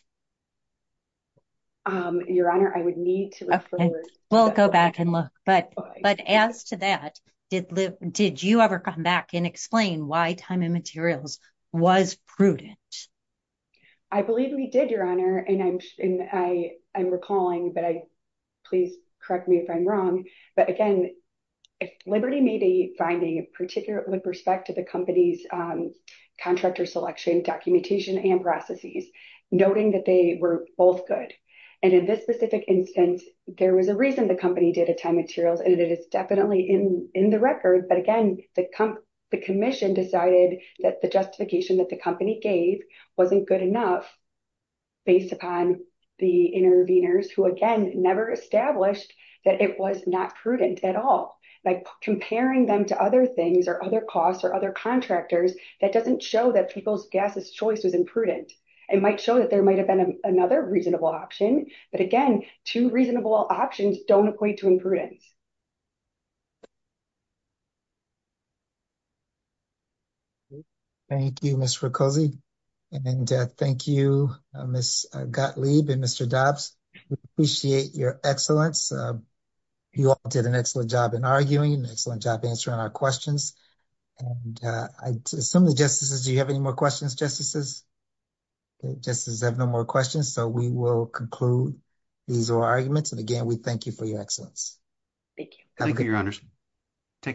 um your honor i would need to refer we'll go back and look but but as to that did live did you ever come back and explain why time and materials was prudent i believe we did your honor and i'm and i i'm recalling but i please correct me if i'm wrong but again liberty may be finding a particular with respect to the company's um contractor selection documentation and processes noting that they were both good and in this specific instance there was a reason the company did a time materials and it is definitely in in the record but again the comp the commission decided that the justification that the company gave wasn't good enough based upon the interveners who again never established that it was not prudent at all like comparing them to other things or other costs or other contractors that doesn't show that people's gas's choice was imprudent it might show that there might have been another reasonable option but again two reasonable options don't equate to imprudence thank you miss for cozy and then death thank you miss gottlieb and mr dobbs we appreciate your excellence you all did an excellent job in arguing an excellent job answering our questions and i assume the justices do you have any more justices justices have no more questions so we will conclude these are arguments and again we thank you for your excellence thank you thank you your honors take care